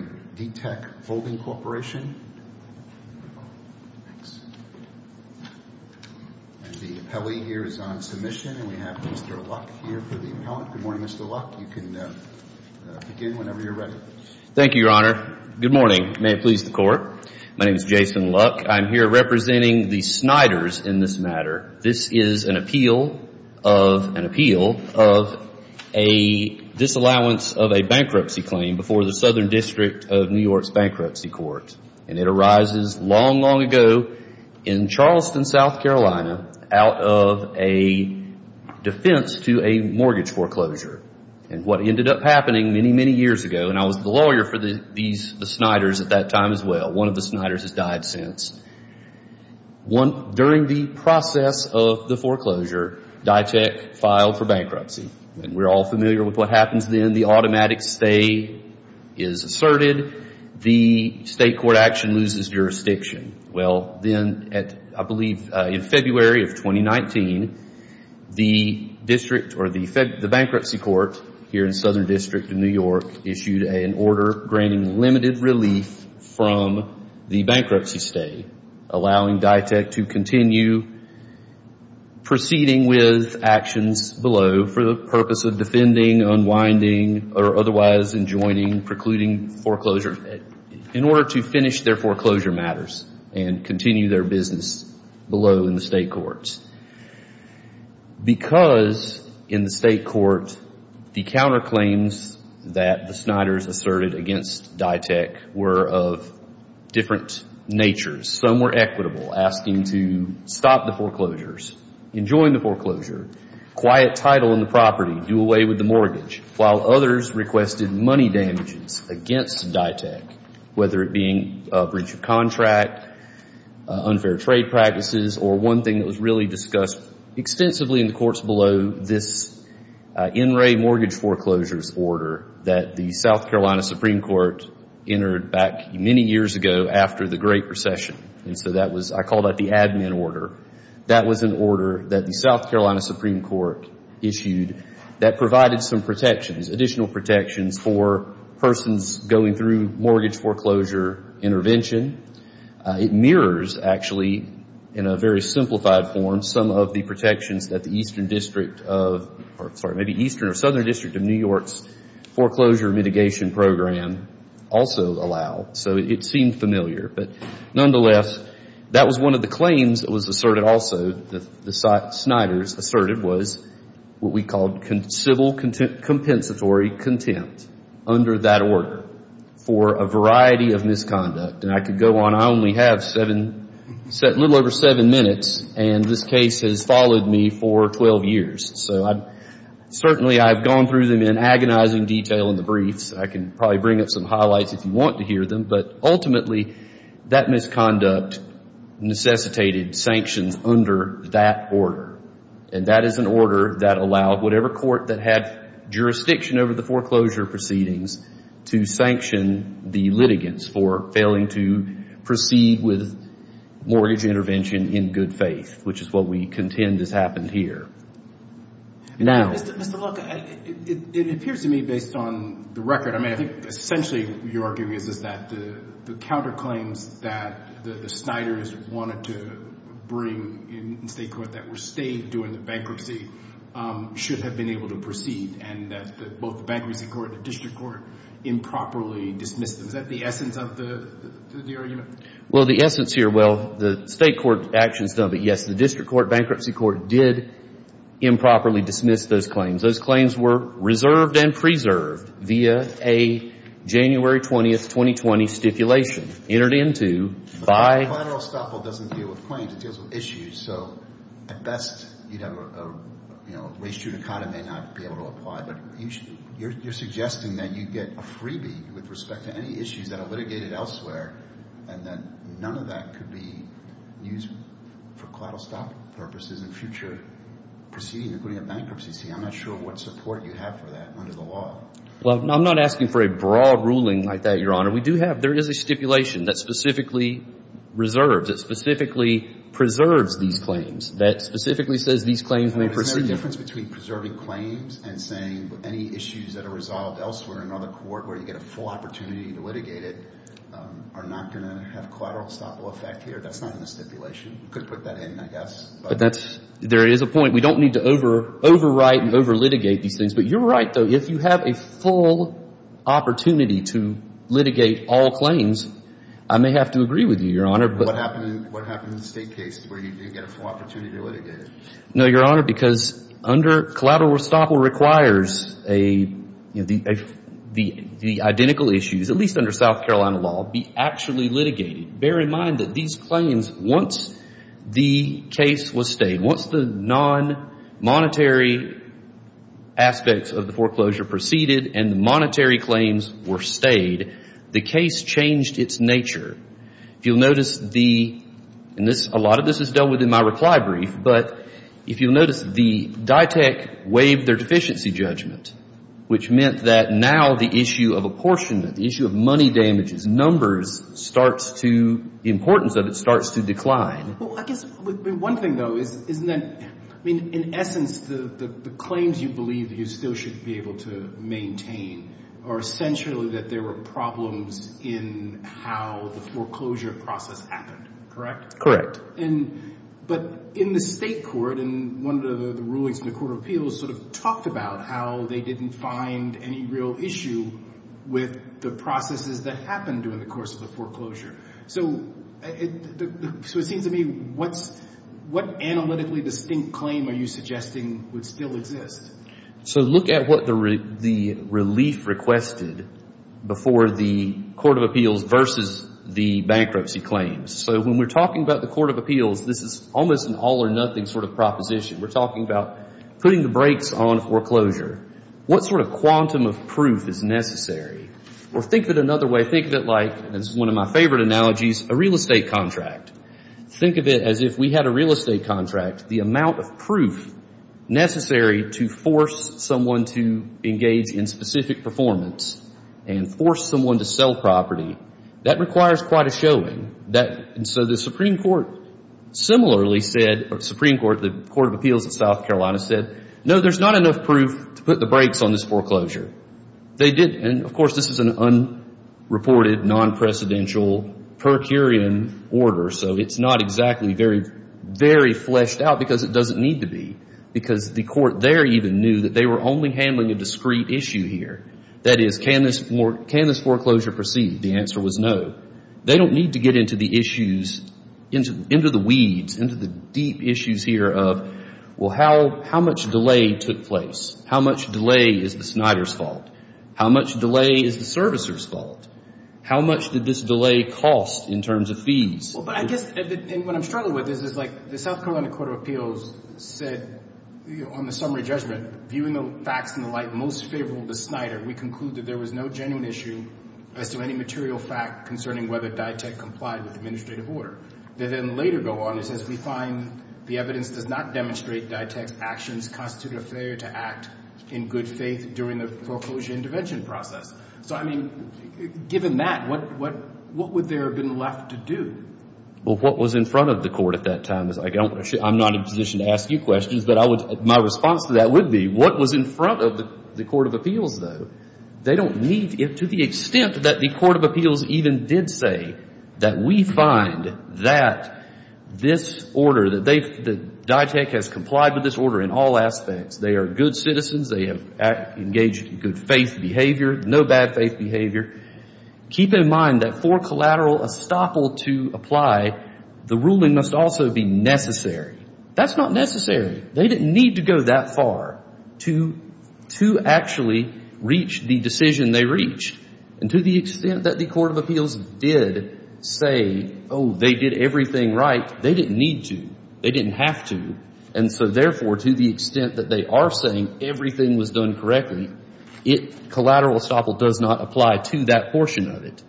Good morning, Mr. Luck. Thank you, Your Honor. Good morning. May it please the Court. My name is Jason Luck. I'm here representing the Snyders in this matter. This is an appeal of a disallowance of a bankruptcy claim before the Southern District of New York's Bankruptcy Court, and it arises long, long ago in Charleston, South Carolina, out of a defense to a mortgage foreclosure. And what ended up happening many, many years ago, and I was the lawyer for the Snyders at that time as well. One of the Snyders has died since. During the process of the foreclosure, Ditech filed for bankruptcy, and we're all familiar with what happens then. The automatic stay is asserted. The state court action loses jurisdiction. Well, then, I believe in February of 2019, the bankruptcy court here in Southern District of New York issued an order granting limited relief from the bankruptcy stay, allowing Ditech to continue proceeding with actions below for the purpose of defending, unwinding, or otherwise enjoining precluding foreclosure in order to finish their foreclosure matters and continue their business below in the state courts. Because in the state court, the counterclaims that the Snyders asserted against Ditech were of different natures. Some were equitable, asking to stop the foreclosures, enjoin the foreclosure, quiet title in the property, do away with the mortgage, while others requested money damages against Ditech, whether it being a breach of contract, unfair trade practices, or one thing that was really discussed extensively in the courts below, this in-ray mortgage foreclosures order that the South Carolina Supreme Court entered back many years ago after the Great Recession. And so that was, I call that the admin order. That was an order that the South Carolina Supreme Court issued that provided some protections, additional protections for persons going through mortgage foreclosure intervention. It mirrors, actually, in a very simplified form, some of the protections that the Eastern District of, or sorry, maybe Eastern or Southern District of New York's foreclosure mitigation program also allow. So it seemed familiar. But nonetheless, that was one of the claims that was asserted also that the Snyders asserted was what we called civil compensatory contempt under that order for a variety of misconduct. And I could go on. I only have a little over seven minutes, and this case has followed me for 12 years. So certainly I've gone through them in agonizing detail in the briefs. I can probably bring up some highlights if you want to hear them. But ultimately, that misconduct necessitated sanctions under that order. And that is an order that allowed whatever court that had jurisdiction over the foreclosure proceedings to sanction the litigants for failing to proceed with mortgage intervention in good faith, which is what we contend has happened here. Now... Mr. Look, it appears to me, based on the record, I mean, I think essentially your argument is that the counterclaims that the Snyders wanted to bring in state court that were stated during the bankruptcy should have been able to proceed and that both the bankruptcy court and the district court improperly dismissed them. Is that the essence of the argument? Well, the essence here, well, the state court actions, yes, the district court, bankruptcy court did improperly dismiss those claims. Those claims were reserved and preserved via a January 20, 2020 stipulation entered into by... But collateral estoppel doesn't deal with claims, it deals with issues. So at best, race judicata may not be able to apply, but you're suggesting that you get a freebie with respect to any issues that are litigated elsewhere and that none of that could be used for collateral estoppel purposes in future proceedings, including a bankruptcy. See, I'm not sure what support you have for that under the law. Well, I'm not asking for a broad ruling like that, Your Honor. We do have, there is a stipulation that specifically reserves, that specifically preserves these claims, that specifically says these claims may proceed. But isn't there a difference between preserving claims and saying any issues that are resolved elsewhere in another court where you get a full opportunity to litigate it are not going to have collateral estoppel effect here? That's not in the stipulation. You could put that in, I guess. But that's, there is a point. We don't need to overwrite and overlitigate these things. But you're right, though. If you have a full opportunity to litigate all claims, I may have to agree with you, What happened in the State case where you did get a full opportunity to litigate it? No, Your Honor, because under collateral estoppel requires the identical issues, at least under South Carolina law, be actually litigated. Bear in mind that these claims, once the case was stayed, once the non-monetary aspects of the foreclosure proceeded and the monetary claims were stayed, the case changed its nature. If you'll notice the, and a lot of this is dealt with in my reply brief, but if you'll notice the DITEC waived their deficiency judgment, which meant that now the issue of apportionment, the issue of money damages, numbers, starts to, the importance of it starts to decline. Well, I guess one thing, though, is that, in essence, the claims you believe you still should be able to maintain are essentially that there were problems in how the foreclosure process happened. Correct? Correct. But in the State court, and one of the rulings in the Court of Appeals sort of talked about how they didn't find any real issue with the processes that happened during the course of the foreclosure. So, it seems to me, what analytically distinct claim are you suggesting would still exist? So, look at what the relief requested before the Court of Appeals versus the bankruptcy claims. So, when we're talking about the Court of Appeals, this is almost an all or nothing sort of proposition. We're talking about putting the brakes on foreclosure. What sort of quantum of proof is necessary? Or, think of it another way. Think of it like, this is one of my favorite analogies, a real estate contract. Think of it as if we had a real estate contract. The amount of proof necessary to force someone to engage in specific performance and force someone to sell property, that requires quite a showing. And so, the Supreme Court similarly said, or the Supreme Court, the Court of Appeals of South Carolina said, no, there's not enough proof to put the brakes on this foreclosure. They didn't. And, of course, this is an unreported, non-precedential, per curiam order. So, it's not exactly very fleshed out because it doesn't need to be. Because the Court there even knew that they were only handling a discrete issue here. That is, can this foreclosure proceed? The answer was no. They don't need to get into the issues, into the weeds, into the deep issues here of, well, how much delay took place? How much delay is the Snyder's fault? How much delay is the servicer's fault? How much did this delay cost in terms of fees? Well, but I guess, and what I'm struggling with is, is like, the South Carolina Court of Appeals said, on the summary judgment, viewing the facts in the light most favorable to Snyder, we conclude that there was no genuine issue as to any material fact concerning whether Dytek complied with the administrative order. They then later go on and say, we find the evidence does not demonstrate Dytek's actions constituted a failure to act in good faith during the foreclosure intervention process. So, I mean, given that, what would there have been left to do? Well, what was in front of the Court at that time? I'm not in a position to ask you questions, but my response to that would be, what was in front of the Court of Appeals, though? They don't need, to the extent that the Court of Appeals even did say that we find that this order, that Dytek has complied with this order in all aspects. They are good citizens. They have engaged in good faith behavior, no bad faith behavior. Keep in mind that for collateral estoppel to apply, the ruling must also be necessary. That's not necessary. They didn't need to go that far to actually reach the decision they reached. And to the extent that the Court of Appeals did say, oh, they did everything right, they didn't need to. They didn't have to. And so, therefore, to the extent that they are saying everything was done correctly, collateral estoppel does not apply to that portion of it.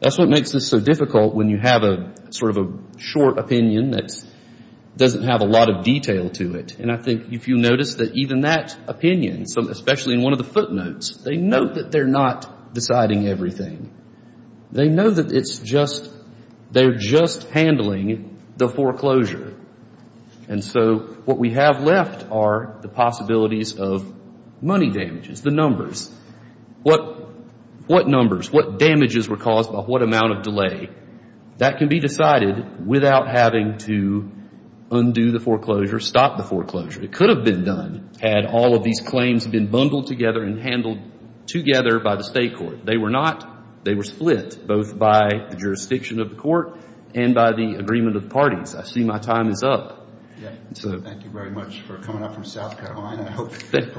That's what makes this so difficult when you have a sort of a short opinion that doesn't have a lot of detail to it. And I think if you notice that even that opinion, especially in one of the footnotes, they note that they're not deciding everything. They know that it's just, they're just handling the foreclosure. And so what we have left are the possibilities of money damages, the numbers. What numbers, what damages were caused by what amount of delay? That can be decided without having to undo the foreclosure, stop the foreclosure. It could have been done had all of these claims been bundled together and handled together by the state court. They were not. They were split, both by the jurisdiction of the court and by the agreement of the parties. I see my time is up. Thank you very much for coming up from South Carolina. I hope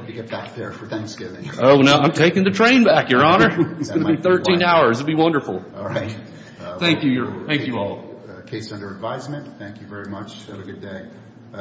you get back there for Thanksgiving. Oh, no, I'm taking the train back, Your Honor. It's going to be 13 hours. It'll be wonderful. All right. Thank you. Thank you all. Case under advisement. Thank you very much. Have a good day.